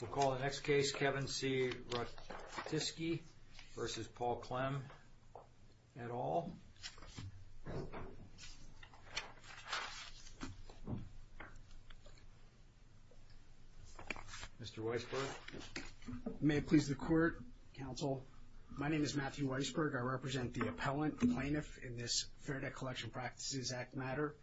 We'll call the next case Kevin C. Rutkiske v. Paul Klemm et al. Mr. Weisberg. May it please the court, counsel, my name is Matthew Weisberg, I represent the appellant plaintiff in this Fair Debt Collection Practices Act matter.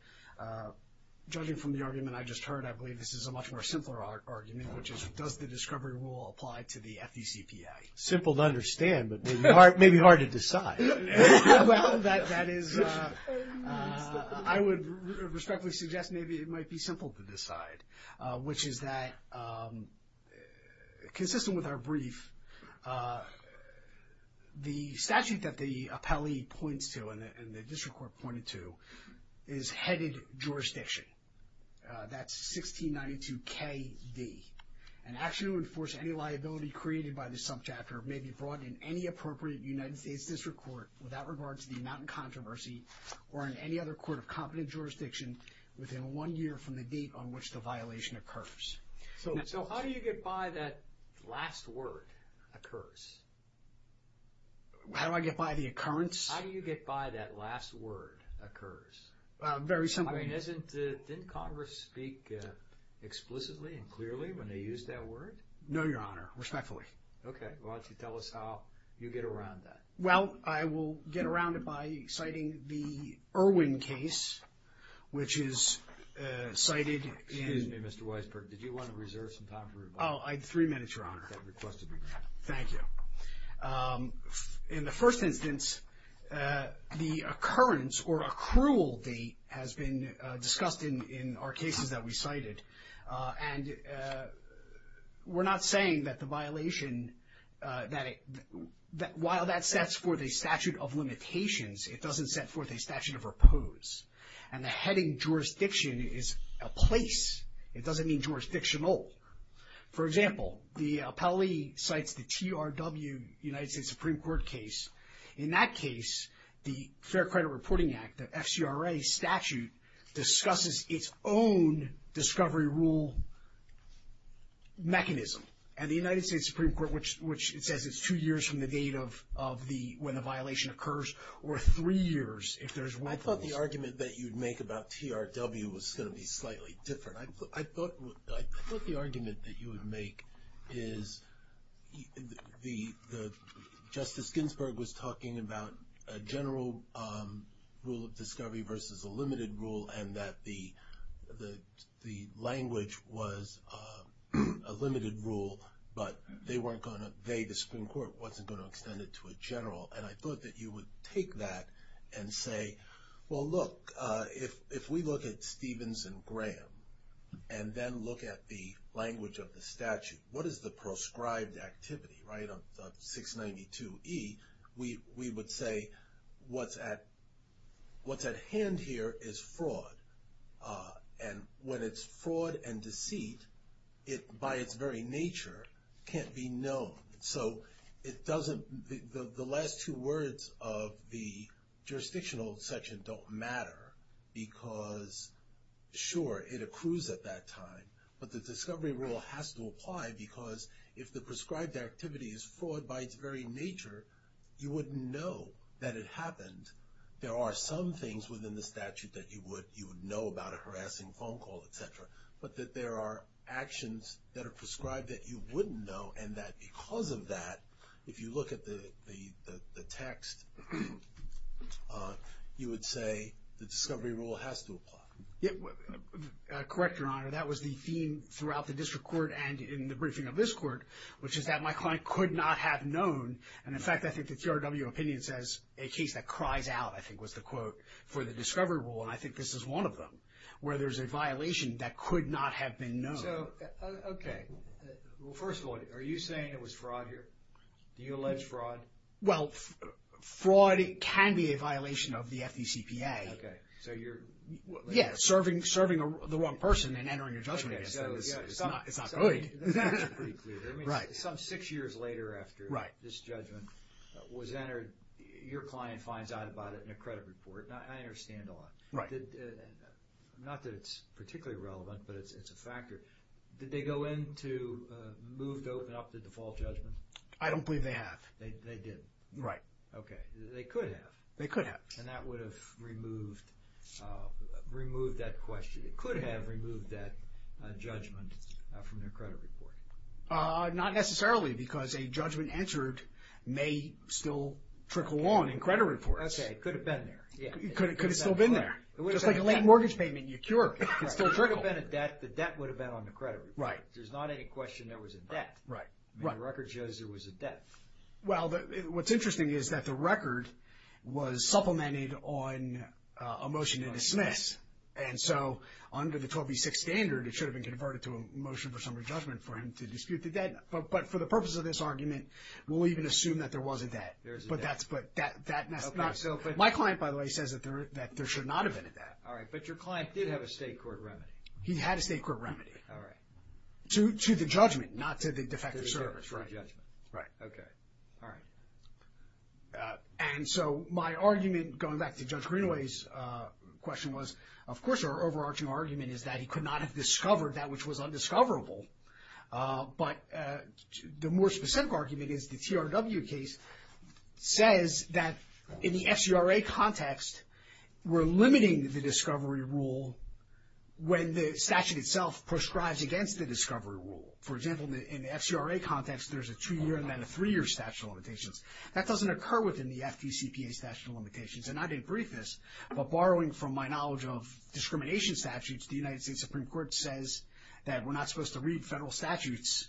Judging from the argument I just heard, I believe this is a much more simpler argument, which is does the discovery rule apply to the FDCPA? Simple to understand, but maybe hard to decide. Well, that is, I would respectfully suggest maybe it might be simple to decide, which is that consistent with our brief, the statute that the appellee points to and the district court pointed to, is headed jurisdiction. That's 1692KD. An action to enforce any liability created by the subchapter may be brought in any appropriate United States district court without regard to the amount in controversy or in any other court of competent jurisdiction within one year from the date on which the violation occurs. So how do you get by that last word, occurs? How do I get by the occurrence? How do you get by that last word, occurs? Very simply. I mean, isn't, didn't Congress speak explicitly and clearly when they used that word? No, Your Honor. Respectfully. Okay. Well, why don't you tell us how you get around that? Well, I will get around it by citing the Irwin case, which is cited in... Excuse me, Mr. Weisberg, did you want to reserve some time for your... Oh, I had three minutes, Your Honor. I had requested three minutes. Thank you. In the first instance, the occurrence or accrual date has been discussed in our cases that we cited, and we're not saying that the violation, that while that sets forth a statute of limitations, it doesn't set forth a statute of repose. And the heading jurisdiction is a place. It doesn't mean jurisdictional. For example, the appellee cites the TRW, United States Supreme Court case. In that case, the Fair Credit Reporting Act, the FCRA statute, discusses its own discovery rule mechanism. And the United States Supreme Court, which it says it's two years from the date of the, when the violation occurs, or three years if there's one... I thought the argument that you'd make about TRW was going to be slightly different. I thought the argument that you would make is the, Justice Ginsburg was talking about a general rule of discovery versus a limited rule, and that the language was a limited rule, but they weren't going to, they, the Supreme Court, wasn't going to extend it to a general. And I thought that you would take that and say, well look, if we look at Stevens and Graham, and then look at the language of the statute, what is the proscribed activity, right, of 692E, we would say what's at hand here is fraud. And when it's fraud and deceit, it, by its very nature, can't be known. So it doesn't, the last two words of the jurisdictional section don't matter, because sure, it accrues at that time, but the discovery rule has to apply, because if the prescribed activity is fraud by its very nature, you wouldn't know that it happened. There are some things within the statute that you would, you would know about a harassing phone call, et cetera, but that there are actions that are prescribed that you wouldn't know, and that because of that, if you look at the text, you would say the discovery rule has to apply. Yeah, correct, Your Honor, that was the theme throughout the district court and in the briefing of this court, which is that my client could not have known, and in fact, I think the TRW opinion says, a case that cries out, I think was the quote, for the discovery rule, and I think this is one of them, where there's a violation that could not have been known. So, okay, well, first of all, are you saying it was fraud here? Do you allege fraud? Well, fraud can be a violation of the FDCPA. Okay, so you're... Yeah, serving the wrong person and entering a judgment against them is not good. That's pretty clear. Right. I mean, some six years later after this judgment was entered, your client finds out about it in a credit report. Now, I understand a lot. Right. Now, did, not that it's particularly relevant, but it's a factor, did they go in to move to open up the default judgment? I don't believe they have. They didn't? Right. Okay. They could have. They could have. And that would have removed, removed that question, it could have removed that judgment from their credit report. Not necessarily, because a judgment entered may still trickle on in credit reports. Okay, it could have been there. Yeah. It could have still been there. It could have been there. Just like a late mortgage payment, you cure it. It could still trickle. It could have been a debt. The debt would have been on the credit report. Right. There's not any question there was a debt. Right. Right. The record shows there was a debt. Well, what's interesting is that the record was supplemented on a motion to dismiss. And so, under the 1286 standard, it should have been converted to a motion for summary judgment for him to dispute the debt. There is a debt. But that's not... Okay. My client, by the way, says that there should not have been a debt. All right. But your client did have a state court remedy. He had a state court remedy. All right. To the judgment, not to the defective service. Right. To the judgment. Right. Okay. All right. And so, my argument, going back to Judge Greenaway's question was, of course, our overarching argument is that he could not have discovered that which was undiscoverable. But the more specific argument is the TRW case says that in the FCRA context, we're limiting the discovery rule when the statute itself prescribes against the discovery rule. For example, in the FCRA context, there's a two-year and then a three-year statute of limitations. That doesn't occur within the FDCPA statute of limitations. And I didn't brief this, but borrowing from my knowledge of discrimination statutes, the federal statutes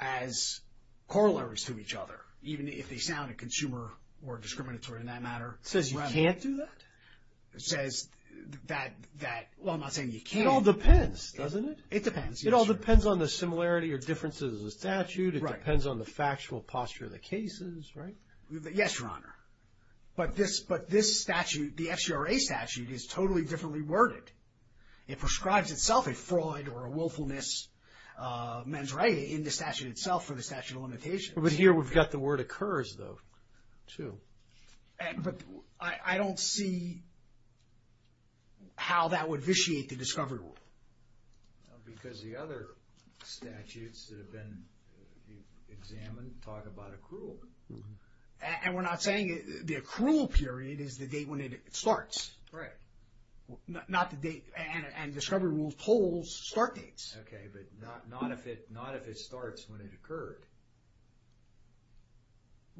as corollaries to each other, even if they sound consumer or discriminatory in that matter. It says you can't do that? It says that, well, I'm not saying you can't. It all depends, doesn't it? It depends. It all depends on the similarity or differences of the statute. It depends on the factual posture of the cases, right? Yes, Your Honor. But this statute, the FCRA statute, is totally differently worded. It prescribes itself a fraud or a willfulness, men's right, in the statute itself for the statute of limitations. But here we've got the word occurs, though, too. But I don't see how that would vitiate the discovery rule. Because the other statutes that have been examined talk about accrual. And we're not saying the accrual period is the date when it starts. Right. Not the date. And the discovery rule holds start dates. Okay, but not if it starts when it occurred.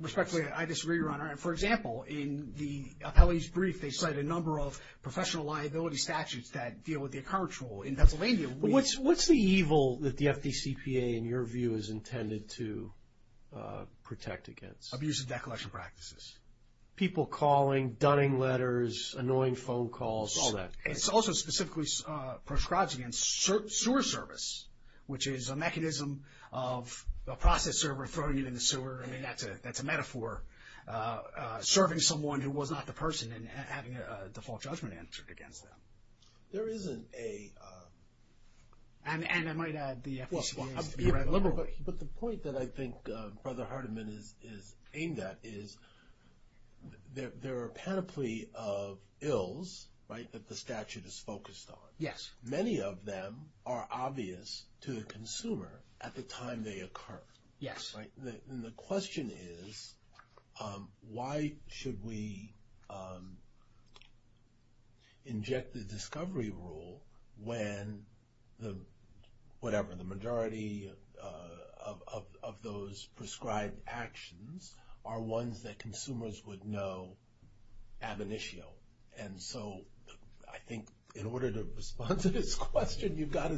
Respectfully, I disagree, Your Honor. For example, in the appellee's brief, they cite a number of professional liability statutes that deal with the accrual in Pennsylvania. What's the evil that the FDCPA, in your view, is intended to protect against? Abuse of decollection practices. People calling. Dunning letters. Annoying phone calls. All that. It also specifically prescribes against sewer service, which is a mechanism of a process server throwing you in the sewer. I mean, that's a metaphor. Serving someone who was not the person and having a default judgment answered against them. There isn't a... And I might add, the FDCPA is directly liberal. But the point that I think Brother Hardiman is aimed at is there are a panoply of ills, right, that the statute is focused on. Yes. Many of them are obvious to the consumer at the time they occur. Yes. And the question is, why should we inject the discovery rule when the, whatever, the majority of those prescribed actions are ones that consumers would know ab initio? And so, I think in order to respond to this question, you've got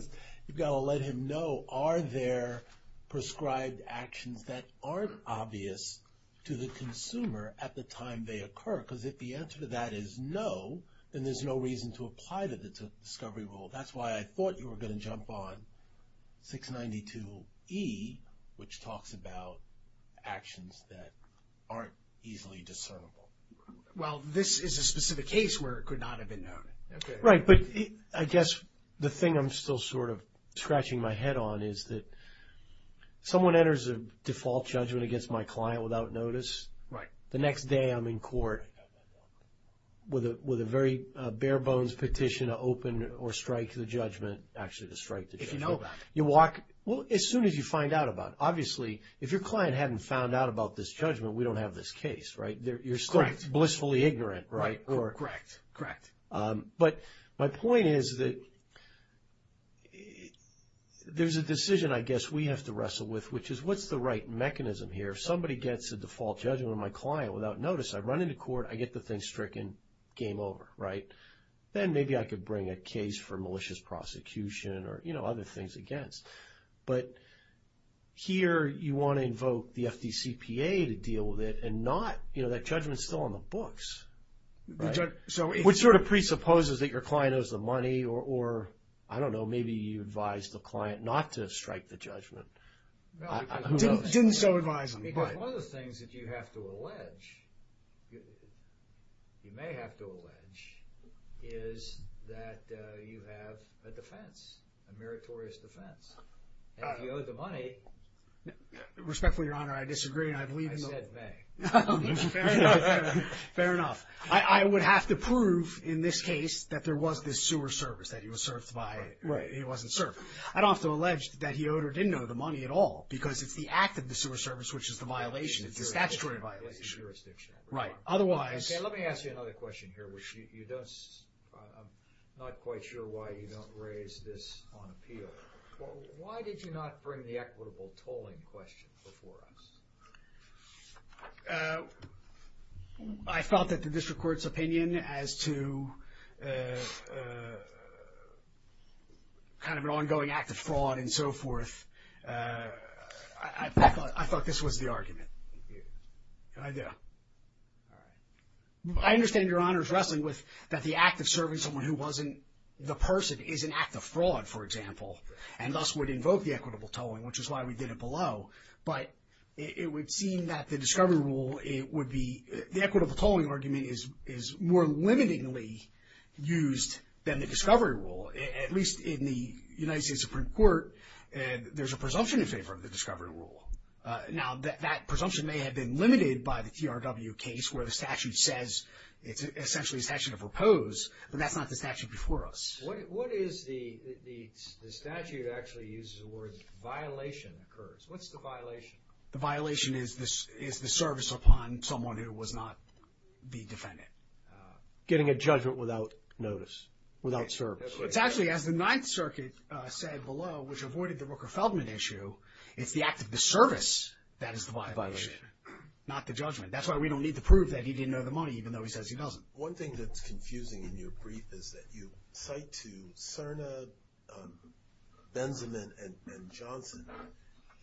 to let him know, are there prescribed actions that aren't obvious to the consumer at the time they occur? Because if the answer to that is no, then there's no reason to apply the discovery rule. That's why I thought you were going to jump on 692E, which talks about actions that aren't easily discernible. Well, this is a specific case where it could not have been known. Right. But I guess the thing I'm still sort of scratching my head on is that someone enters a default judgment against my client without notice. Right. The next day I'm in court with a very bare bones petition to open or strike the judgment, actually to strike the judgment. If you know about it. You walk, well, as soon as you find out about it. Obviously, if your client hadn't found out about this judgment, we don't have this case, right? You're still blissfully ignorant, right? Correct. Correct. But my point is that there's a decision I guess we have to wrestle with, which is what's the right mechanism here? If somebody gets a default judgment on my client without notice, I run into court, I get the thing stricken, game over, right? Then maybe I could bring a case for malicious prosecution or other things against. But here you want to invoke the FDCPA to deal with it and not, that judgment's still on the books, right? Which sort of presupposes that your client owes the money or, I don't know, maybe you advise the client not to strike the judgment. Who knows? Didn't so advise them. Because one of the things that you have to allege, you may have to allege, is that you have a defense, a meritorious defense. If you owe the money- Respectfully, Your Honor, I disagree and I believe in the- I said may. Fair enough. Fair enough. I would have to prove in this case that there was this sewer service that he was served by. Right. He wasn't served. I'd also allege that he owed or didn't owe the money at all because it's the act of the sewer service which is the violation. It's a statutory violation. It's a jurisdiction. Right. Otherwise- Okay, let me ask you another question here, which you don't, I'm not quite sure why you don't raise this on appeal. Why did you not bring the equitable tolling question before us? I thought that the district court's opinion as to kind of an ongoing act of fraud and so forth, I thought this was the argument. Thank you. I do. All right. I understand Your Honor's wrestling with that the act of serving someone who wasn't the person is an act of fraud, for example, and thus would invoke the equitable tolling, which is why we did it below. But it would seem that the discovery rule, it would be, the equitable tolling argument is more limitingly used than the discovery rule, at least in the United States Supreme Court, there's a presumption in favor of the discovery rule. Now, that presumption may have been limited by the TRW case where the statute says it's essentially a statute of repose, but that's not the statute before us. What is the statute that actually uses the words violation occurs? What's the violation? The violation is the service upon someone who was not the defendant. Getting a judgment without notice, without service. It's actually, as the Ninth Circuit said below, which avoided the Rooker-Feldman issue, it's the act of the service that is the violation, not the judgment. That's why we don't need to prove that he didn't owe the money, even though he says he doesn't. One thing that's confusing in your brief is that you cite to Cerna, Benzeman, and Johnson.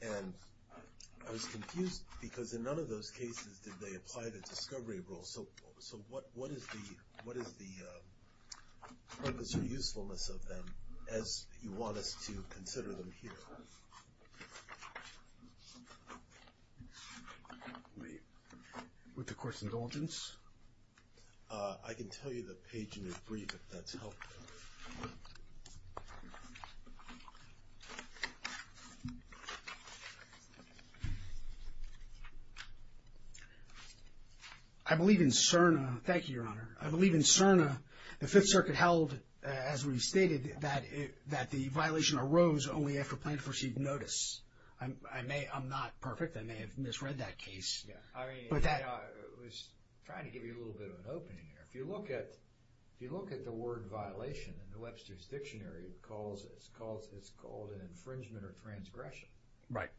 And I was confused because in none of those cases did they apply the discovery rule. So what is the purpose or usefulness of them as you want us to consider them here? With the Court's indulgence? I can tell you the page in your brief if that's helpful. I believe in Cerna. Thank you, Your Honor. I believe in Cerna, the Fifth Circuit held, as we stated, that the violation arose only after a plaintiff received notice. I'm not perfect. I may have misread that case. I was trying to give you a little bit of an opening here. If you look at the word violation in the Webster's Dictionary, it's called an infringement or transgression. Right.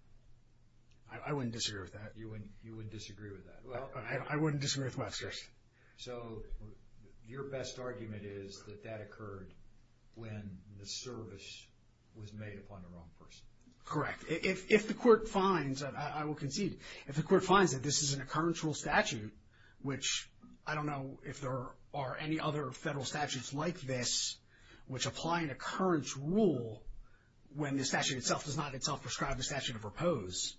I wouldn't disagree with that. You wouldn't disagree with that. I wouldn't disagree with Webster's. So your best argument is that that occurred when the service was made upon the wrong person. Correct. If the Court finds, and I will concede, if the Court finds that this is an occurrence rule statute, which I don't know if there are any other federal statutes like this which apply an occurrence rule when the statute itself does not itself prescribe the statute of repose,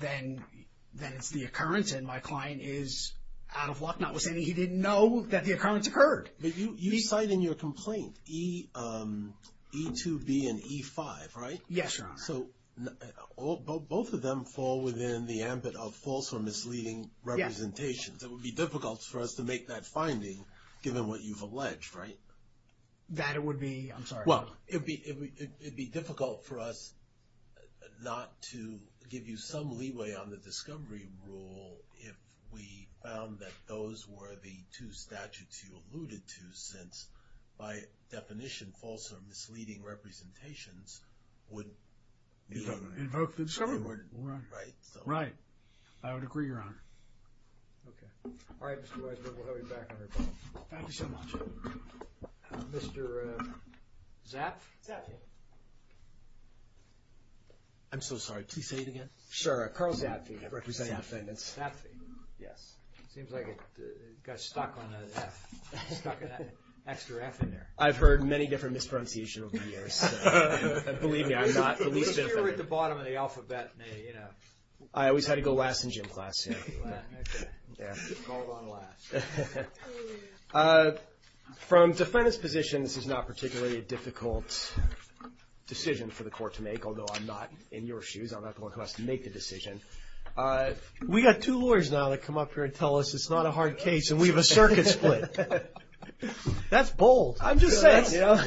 then it's the occurrence and my client is out of luck. Notwithstanding, he didn't know that the occurrence occurred. But you cite in your complaint E2B and E5, right? Yes, Your Honor. So both of them fall within the ambit of false or misleading representations. Yes. It would be difficult for us to make that finding given what you've alleged, right? That it would be, I'm sorry. Well, it would be difficult for us not to give you some leeway on the discovery rule if we found that those were the two statutes you alluded to since by definition false or misleading representations would be invoked. Right. Right. I would agree, Your Honor. Okay. All right, Mr. Weissberg. We'll have you back on your claim. Thank you so much. Mr. Zaff? Zaffi. I'm so sorry. Please say it again. Sure. Carl Zaffi, representing defendants. Zaffi. Yes. Seems like it got stuck on an F. Stuck an extra F in there. I've heard many different mispronunciations over the years. Believe me, I'm not the least bit offended. You were at the bottom of the alphabet. I always had to go last in gym class. Okay. Called on last. From defendant's position, this is not particularly a difficult decision for the court to make, although I'm not in your shoes. I'm not the one who has to make the decision. We got two lawyers now that come up here and tell us it's not a hard case and we have a circuit split. That's bold. I'm just saying, you know.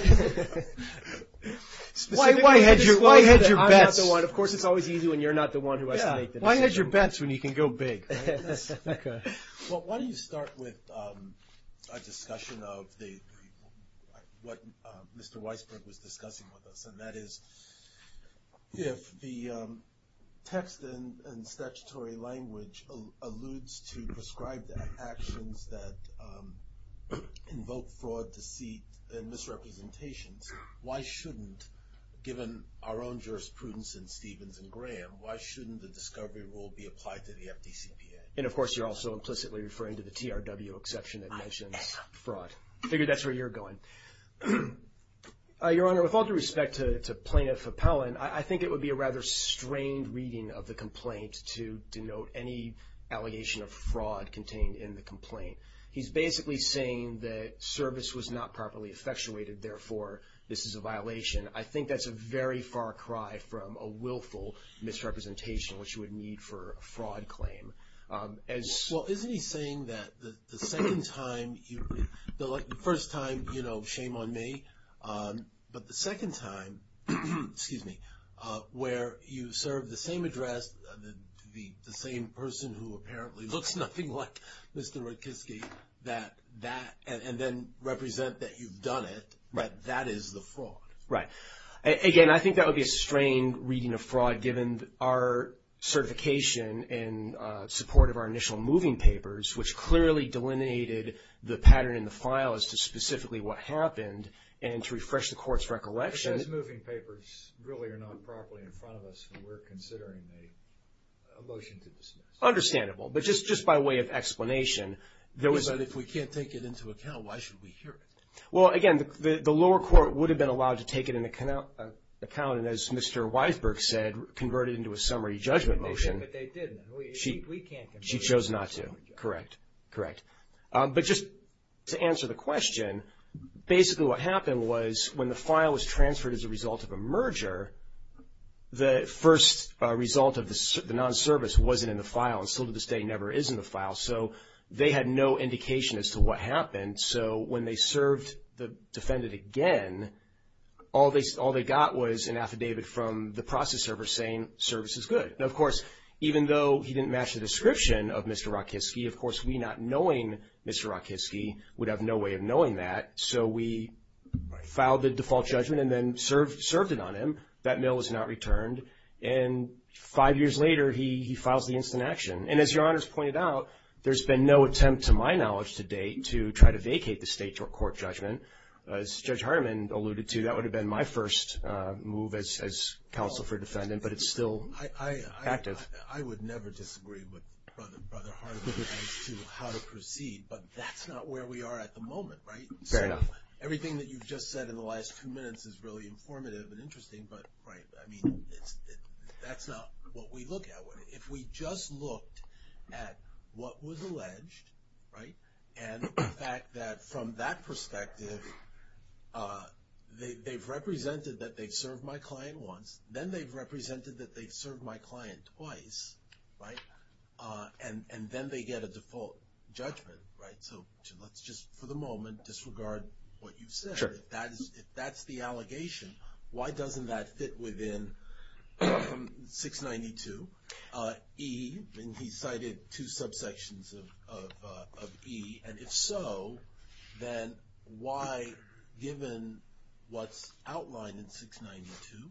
Why head your bets? I'm not the one. Of course, it's always easy when you're not the one who has to make the decision. Yeah. Why head your bets when you can go big? Okay. Well, why don't you start with a discussion of what Mr. Weisberg was discussing with us, and that is if the text and statutory language alludes to prescribed actions that invoke fraud, deceit, and misrepresentations, why shouldn't, given our own jurisprudence in Stevens and Graham, why shouldn't the discovery rule be applied to the FDCPA? And, of course, you're also implicitly referring to the TRW exception that mentions fraud. I figured that's where you're going. Your Honor, with all due respect to Plaintiff Appellant, I think it would be a rather strained reading of the complaint to denote any allegation of fraud contained in the complaint. He's basically saying that service was not properly effectuated, therefore, this is a violation. I think that's a very far cry from a willful misrepresentation, which you would need for a fraud claim. Well, isn't he saying that the second time, the first time, you know, shame on me, but the second time, excuse me, where you served the same address to the same person who apparently looks nothing like Mr. Rutkiski, that that, and then represent that you've done it, that that is the fraud? Right. Again, I think that would be a strained reading of fraud given our certification in support of our initial moving papers, which clearly delineated the pattern in the file as to specifically what happened, and to refresh the Court's recollection... It says moving papers really are not properly in front of us, and we're considering a motion to dismiss. Understandable. But just by way of explanation, there was... But if we can't take it into account, why should we hear it? Well, again, the lower court would have been allowed to take it into account, and as Mr. Weisberg said, convert it into a summary judgment motion. But they didn't. She chose not to. Correct. But just to answer the question, basically what happened was when the file was transferred as a result of a merger, the first result of the non-service wasn't in the file and still to this day never is in the file, so they had no indication as to what happened, so when they served the defendant again, all they got was an affidavit from the process server saying service is good. Now, of course, even though he didn't match the description of Mr. Rakitsky, of course, we not knowing Mr. Rakitsky would have no way of knowing that, so we filed the default judgment and then served it on him. That mail was not returned, and five years later he files the instant action. And as Your Honors pointed out, there's been no attempt to my knowledge to date to try to vacate the state court judgment. As Judge Hardiman alluded to, that would have been my first move as counsel for defendant, but it's still active. I would never disagree with Brother Hardiman as to how to proceed, but that's not where we are at the moment, right? Fair enough. Everything that you've just said in the last two minutes is really informative and interesting, but, right, I mean, that's not what we look at. If we just looked at what was alleged, right, and the fact that from that perspective they've represented that they've served my client once, then they've represented that they've served my client twice, right, and then they get a default judgment, right? So let's just, for the moment, disregard what you've said. If that's the allegation, why doesn't that fit within 692 E, and he cited two subsections of E, and if so, then why given what's outlined in 692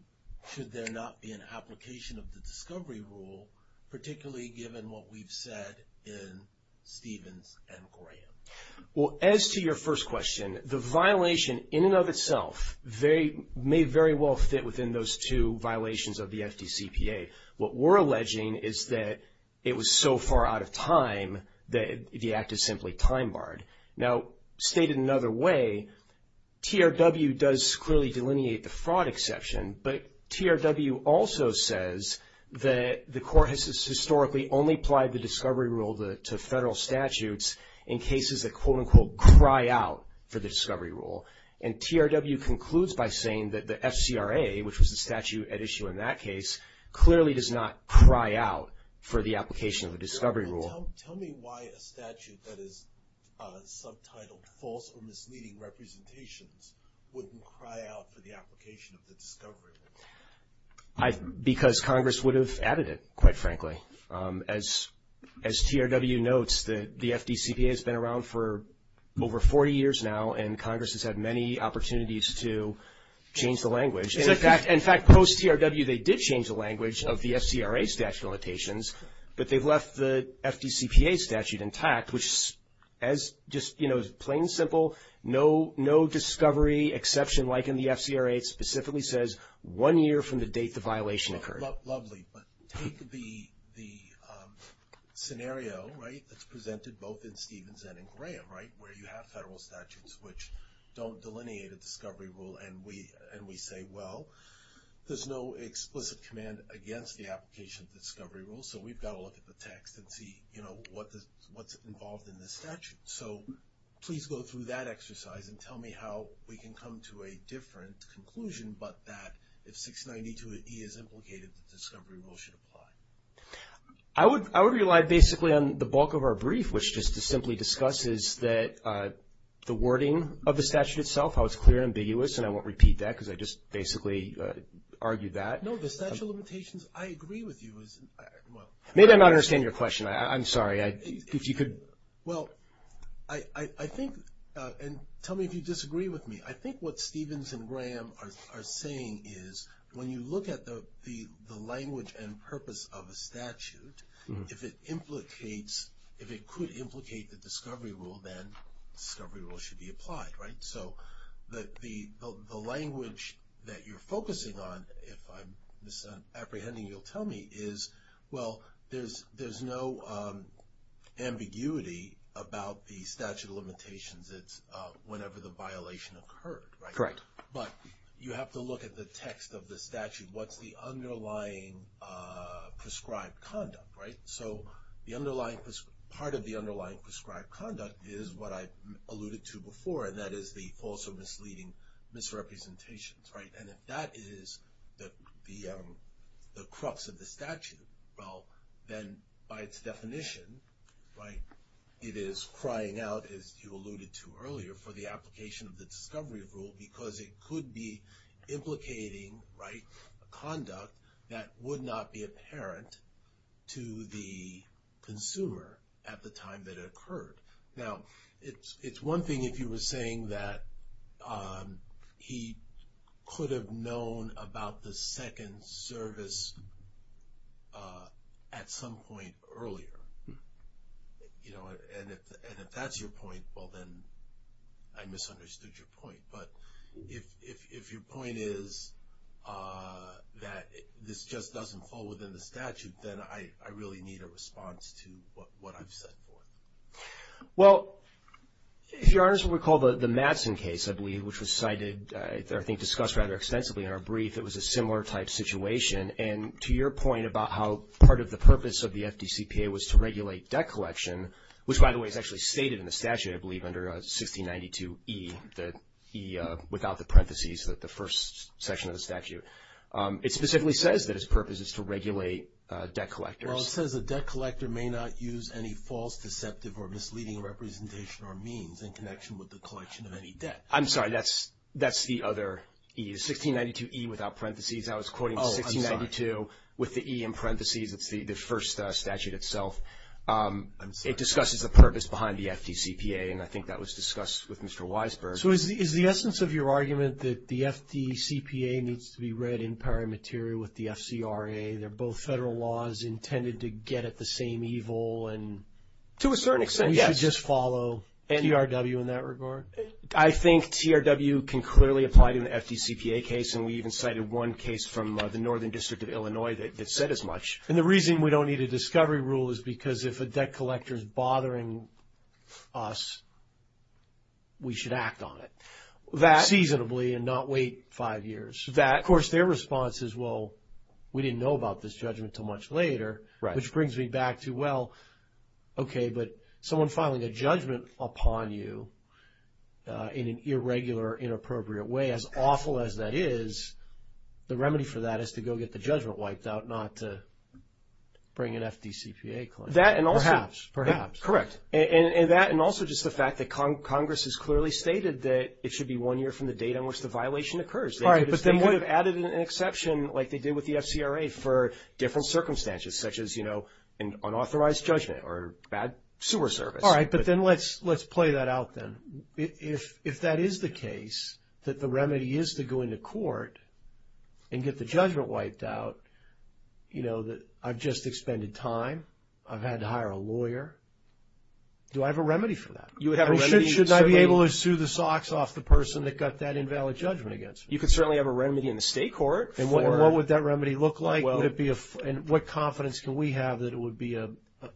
should there not be an application of the discovery rule, particularly given what we've said in Stevens and Graham? Well, as to your first question, the violation in and of itself may very well fit within those two violations of the FDCPA. What we're alleging is that it was so far out of time that the act is simply time-barred. Now, stated another way, TRW does clearly delineate the fraud exception, but TRW also says that the court has historically only applied the discovery rule to federal statutes in cases that quote-unquote cry out for the discovery rule, and TRW concludes by saying that the case clearly does not cry out for the application of the discovery rule. Tell me why a statute that is subtitled false or misleading representations wouldn't cry out for the application of the discovery rule? Because Congress would have added it, quite frankly. As TRW notes, the FDCPA has been around for over 40 years now, and Congress has had many opportunities to change the language. In fact, post-TRW, they did change the language of the FCRA statute limitations, but they've left the FDCPA statute intact, which, as just plain and simple, no discovery exception like in the FCRA specifically says one year from the date the violation occurred. Lovely, but take the scenario that's presented both in Stevens and in Graham, where you have federal statutes which don't delineate a well. There's no explicit command against the application of the discovery rule, so we've got to look at the text and see what's involved in this statute. So, please go through that exercise and tell me how we can come to a different conclusion, but that if 692E is implicated, the discovery rule should apply. I would rely basically on the bulk of our brief, which just to simply discuss is that the wording of the statute itself, how it's clear and basically argued that. No, the statute limitations, I agree with you. Maybe I'm not understanding your question. I'm sorry. Well, I think and tell me if you disagree with me. I think what Stevens and Graham are saying is when you look at the language and purpose of a statute, if it implicates, if it could implicate the discovery rule, then the discovery rule should be applied, right? So, the language that you're focusing on, if I'm apprehending you'll tell me is, well, there's no ambiguity about the statute limitations. It's whenever the violation occurred, right? But you have to look at the text of the statute. What's the underlying prescribed conduct, right? So, the underlying part of the underlying prescribed conduct is what I alluded to before, and that is the false or misleading misrepresentations, right? And if that is the crux of the statute, well, then by its definition, right, it is crying out, as you alluded to earlier, for the application of the discovery rule because it could be implicating, right, conduct that would not be apparent to the consumer at the time that it occurred. Now, it's one thing if you were saying that he could have known about the second service at some point earlier, you know, and if that's your point, well, then I misunderstood your point, but if your point is that this just doesn't fall within the statute, then I really need a response to what I've said before. Well, if Your Honor recall the Madsen case, I believe, which was cited, or I think discussed rather extensively in our brief, it was a similar type situation, and to your point about how part of the purpose of the FDCPA was to regulate debt collection, which, by the way, is actually stated in the statute, I believe, under 1692E, the E without the parentheses, the first section of the statute, it specifically says that its purpose is to regulate debt collectors. Well, it says a debt collector may not use any false, deceptive, or misleading representation or means in connection with the collection of any debt. I'm sorry, that's the other E. 1692E without parentheses, I was quoting 1692 with the E in parentheses, it's the first statute itself. It discusses the purpose behind the FDCPA, and I think that was discussed with Mr. Weisberg. So is the essence of your argument that the FDCPA needs to be read in pari materia with the intent to get at the same evil and... To a certain extent, yes. We should just follow TRW in that regard? I think TRW can clearly apply to an FDCPA case, and we even cited one case from the Northern District of Illinois that said as much. And the reason we don't need a discovery rule is because if a debt collector is bothering us, we should act on it, seasonably, and not wait five years. Of course, their response is, well, we didn't know about this judgment until much later, which brings me back to, well, okay, but someone filing a judgment upon you in an irregular, inappropriate way, as awful as that is, the remedy for that is to go get the judgment wiped out, not to bring an FDCPA claim. Perhaps. Correct. And that, and also just the fact that Congress has clearly stated that it should be one year from the date on which the violation occurs. All right, but they could have added an exception like they did with the FCRA for different circumstances, such as, you know, an unauthorized judgment or bad sewer service. All right, but then let's play that out then. If that is the case, that the remedy is to go into court and get the judgment wiped out, you know, that I've just expended time, I've had to hire a lawyer, do I have a remedy for that? Shouldn't I be able to sue the socks off the person that got that invalid judgment against me? You could certainly have a remedy in the state court. And what would that remedy look like? And what confidence can we have that it would be a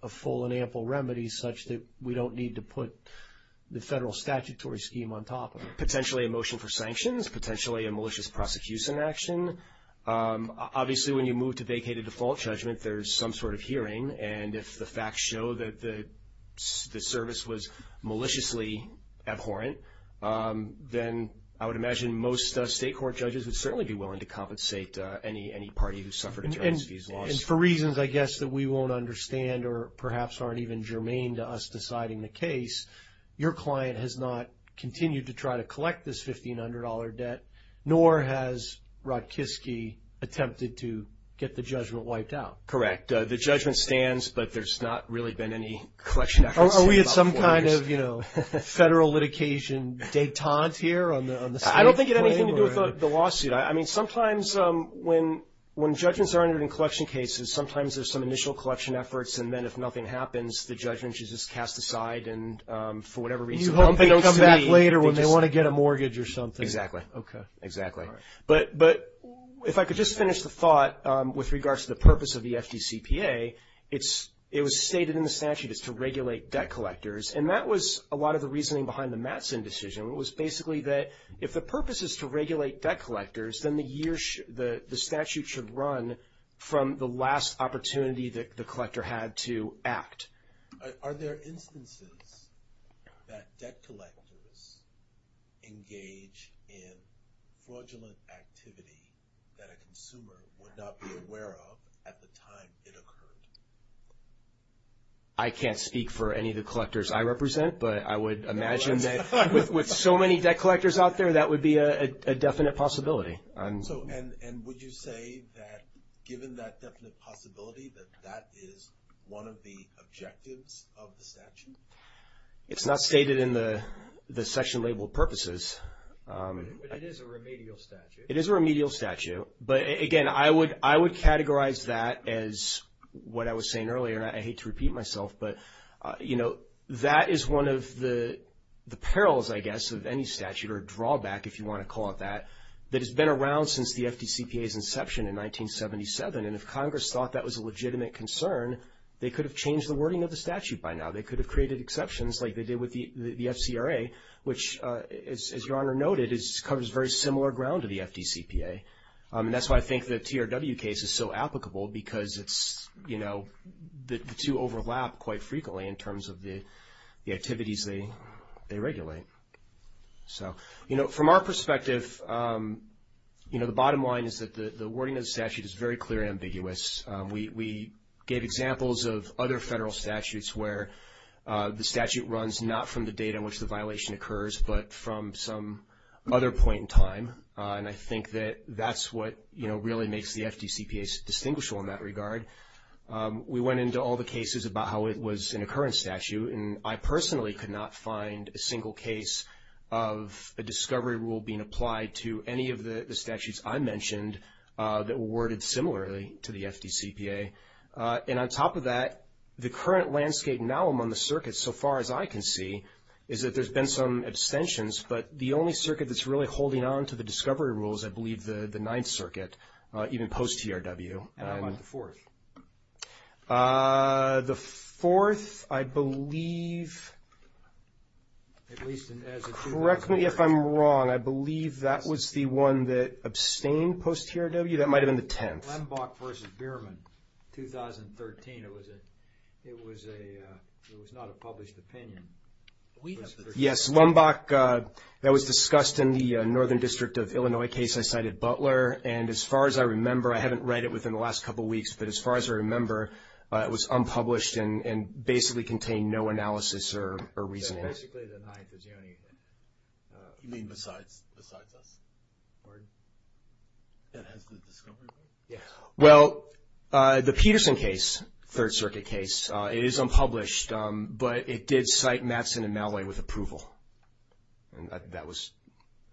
full and ample remedy such that we don't need to put the federal statutory scheme on top of it? Potentially a motion for sanctions, potentially a malicious prosecution action. Obviously, when you move to vacated default judgment, there's some sort of hearing, and if the facts show that the service was maliciously abhorrent, then I would imagine most state court judges would certainly be willing to compensate any party who suffered in terms of these laws. And for reasons, I guess, that we won't understand or perhaps aren't even germane to us deciding the case, your client has not continued to try to collect this $1,500 debt, nor has Rotkiski attempted to get the judgment wiped out. Correct. The judgment stands, but there's not really been any collection efforts in about four years. Is there some kind of, you know, federal litigation detente here on the state? I don't think it had anything to do with the lawsuit. I mean, sometimes when judgments are entered in collection cases, sometimes there's some initial collection efforts, and then if nothing happens, the judgment is just cast aside, and for whatever reason, they don't come back later when they want to get a mortgage or something. Exactly. Okay. Exactly. But if I could just finish the thought with regards to the purpose of the FDCPA, it was stated in the statute is to regulate debt collectors, and that was a lot of the reasoning behind the Mattson decision. It was basically that if the purpose is to regulate debt collectors, then the statute should run from the last opportunity that the collector had to act. Are there instances that debt collectors engage in fraudulent activity that a consumer would not be aware of at the time it occurred? I can't speak for any of the collectors I represent, but I would imagine that with so many debt collectors out there, that would be a definite possibility. And would you say that given that definite possibility, that that is one of the objectives of the statute? It's not stated in the section labeled purposes. But it is a remedial statute. It is a remedial statute. But again, I would categorize that as what I was saying earlier, and I hate to repeat myself, but that is one of the perils, I guess, of any statute, or drawback, if you want to call it that, that has been around since the FDCPA's inception in 1977. And if Congress thought that was a legitimate concern, they could have changed the wording of the statute by now. They could have created exceptions like they did with the FCRA, which as Your Honor noted, covers very similar ground to the FDCPA. And that's why I think the TRW case is so applicable, because the two overlap quite frequently in terms of the activities they regulate. From our perspective, the bottom line is that the wording of the statute is very clear and ambiguous. We gave examples of other federal statutes where the statute runs not from the date on which the violation occurs, but from some other point in time. And I think that that's what really makes the FDCPA distinguishable in that regard. We went into all the cases about how it was in a current statute, and I personally could not find a single case of a discovery rule being applied to any of the statutes I mentioned that were worded similarly to the FDCPA. And on top of that, the current landscape now among the circuits, so far as I can see, is that there's been some abstentions, but the only circuit that's really sticking on to the discovery rules, I believe the Ninth Circuit, even post-TRW. And how about the fourth? The fourth, I believe Correct me if I'm wrong. I believe that was the one that abstained post-TRW. That might have been the tenth. Lumbach v. Bierman, 2013. It was a not a published opinion. Yes, Lumbach That was discussed in the Northern District of Illinois case I cited Butler, and as far as I remember, I haven't read it within the last couple of weeks, but as far as I remember, it was unpublished and basically contained no analysis or reasoning. So basically the Ninth is the only besides us. Pardon? That has the discovery rule? Well, the Peterson case, Third Circuit case, it is unpublished, but it did cite Mattson and Malloy with approval. And that was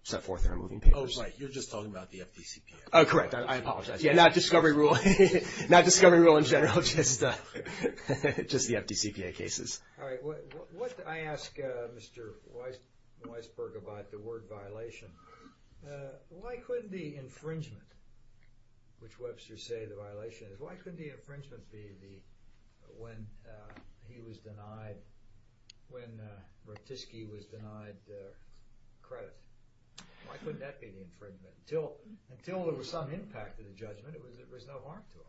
set forth in our moving papers. Oh, right. You're just talking about the FDCPA. Oh, correct. I apologize. Not discovery rule. Not discovery rule in general. Just the FDCPA cases. All right. What I ask Mr. Weisberg about the word violation, why could the infringement, which Webster says the violation is, why could the infringement be when he was denied, when Ratisky was denied credit? Why couldn't that be the infringement? Until there was some impact of the judgment, there was no harm to it.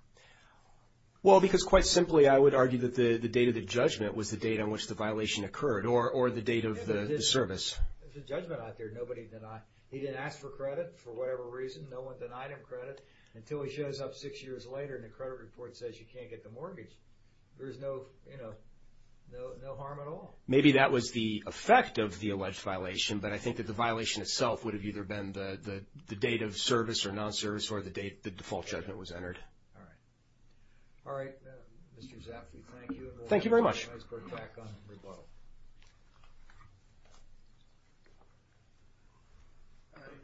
Well, because quite simply, I would argue that the date of the judgment was the date on which the violation occurred or the date of the service. There's a judgment out there nobody denied. He didn't ask for credit for whatever reason. No one denied him credit until he shows up six years later and the credit report says he can't get the mortgage. There's no harm at all. Maybe that was the effect of the alleged violation, but I think that the violation itself would have either been the date of service or non-service or the date the default judgment was entered. All right. Mr. Zappi, thank you. Thank you very much.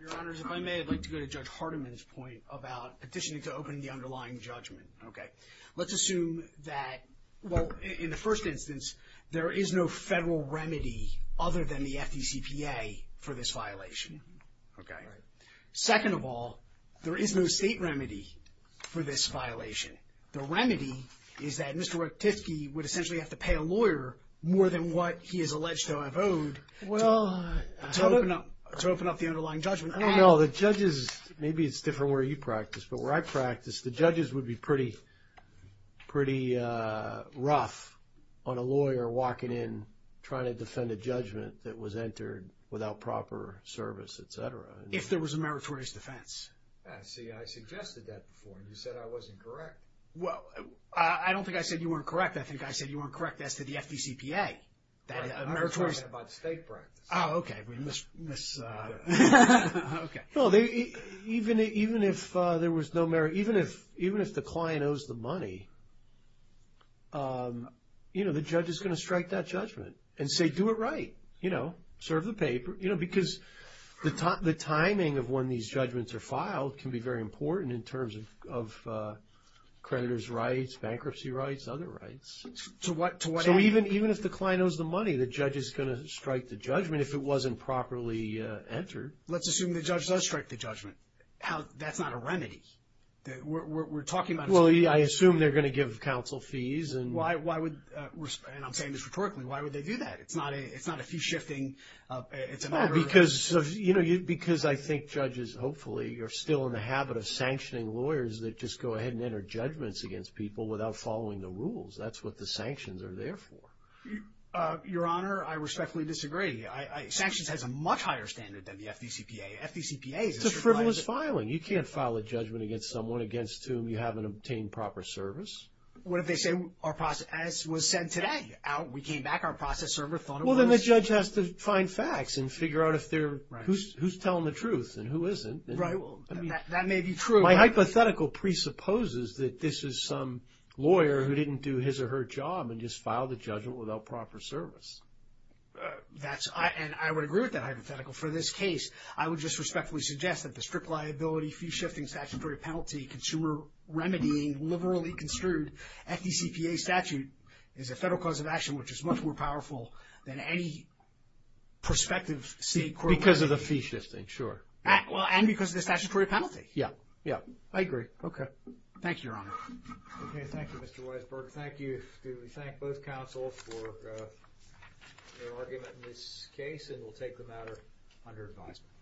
Your Honors, if I may, I'd like to go to Judge Hardiman's point about petitioning to let's assume that, well, in the first instance, there is no federal remedy other than the FDCPA for this violation. Okay. Second of all, there is no state remedy for this violation. The remedy is that Mr. Ratisky would essentially have to pay a lawyer more than what he is alleged to have owed to open up the underlying judgment. I don't know. The judges, maybe it's different where you practice, but where I practice, the judges would be pretty rough on a lawyer walking in trying to defend a judgment that was entered without proper service, etc. If there was a meritorious defense. See, I suggested that before. You said I wasn't correct. Well, I don't think I said you weren't correct. I think I said you weren't correct as to the FDCPA. I was talking about state practice. Oh, okay. We missed... Okay. Even if there was no merit, even if the client owes the money, the judge is going to strike that judgment and say, do it right. Serve the paper. Because the timing of when these judgments are filed can be very important in terms of creditor's rights, bankruptcy rights, other rights. To what end? So even if the client owes the money, the judge is going to strike the judgment if it wasn't properly entered. Let's assume the judge does strike the judgment. That's not a remedy. We're talking about... Well, I assume they're going to give council fees. Why would... And I'm saying this rhetorically. Why would they do that? It's not a fee-shifting... Oh, because I think judges, hopefully, are still in the habit of sanctioning lawyers that just go ahead and enter judgments against people without following the rules. That's what the sanctions are there for. Your Honor, I respectfully disagree. Sanctions has a much higher standard than the FDCPA. FDCPA... It's a frivolous filing. You can't file a judgment against someone against whom you haven't obtained proper service. What if they say our process was sent today? We came back, our process server thought it was... Well, then the judge has to find facts and figure out who's telling the truth and who isn't. That may be true. My hypothetical presupposes that this is some lawyer who didn't do his or her job and just filed a judgment without proper service. I would agree with that hypothetical. For this case, I would just respectfully suggest that the strict liability, fee-shifting, statutory penalty, consumer remedying, liberally construed FDCPA statute is a federal cause of action which is much more powerful than any prospective state court... Because of the fee-shifting, sure. And because of the statutory penalty. Yeah. I agree. Thank you, Your Honor. Thank you, Mr. Weisberg. Thank you. Do we thank both counsels for their argument in this case? And we'll take the matter under advisement.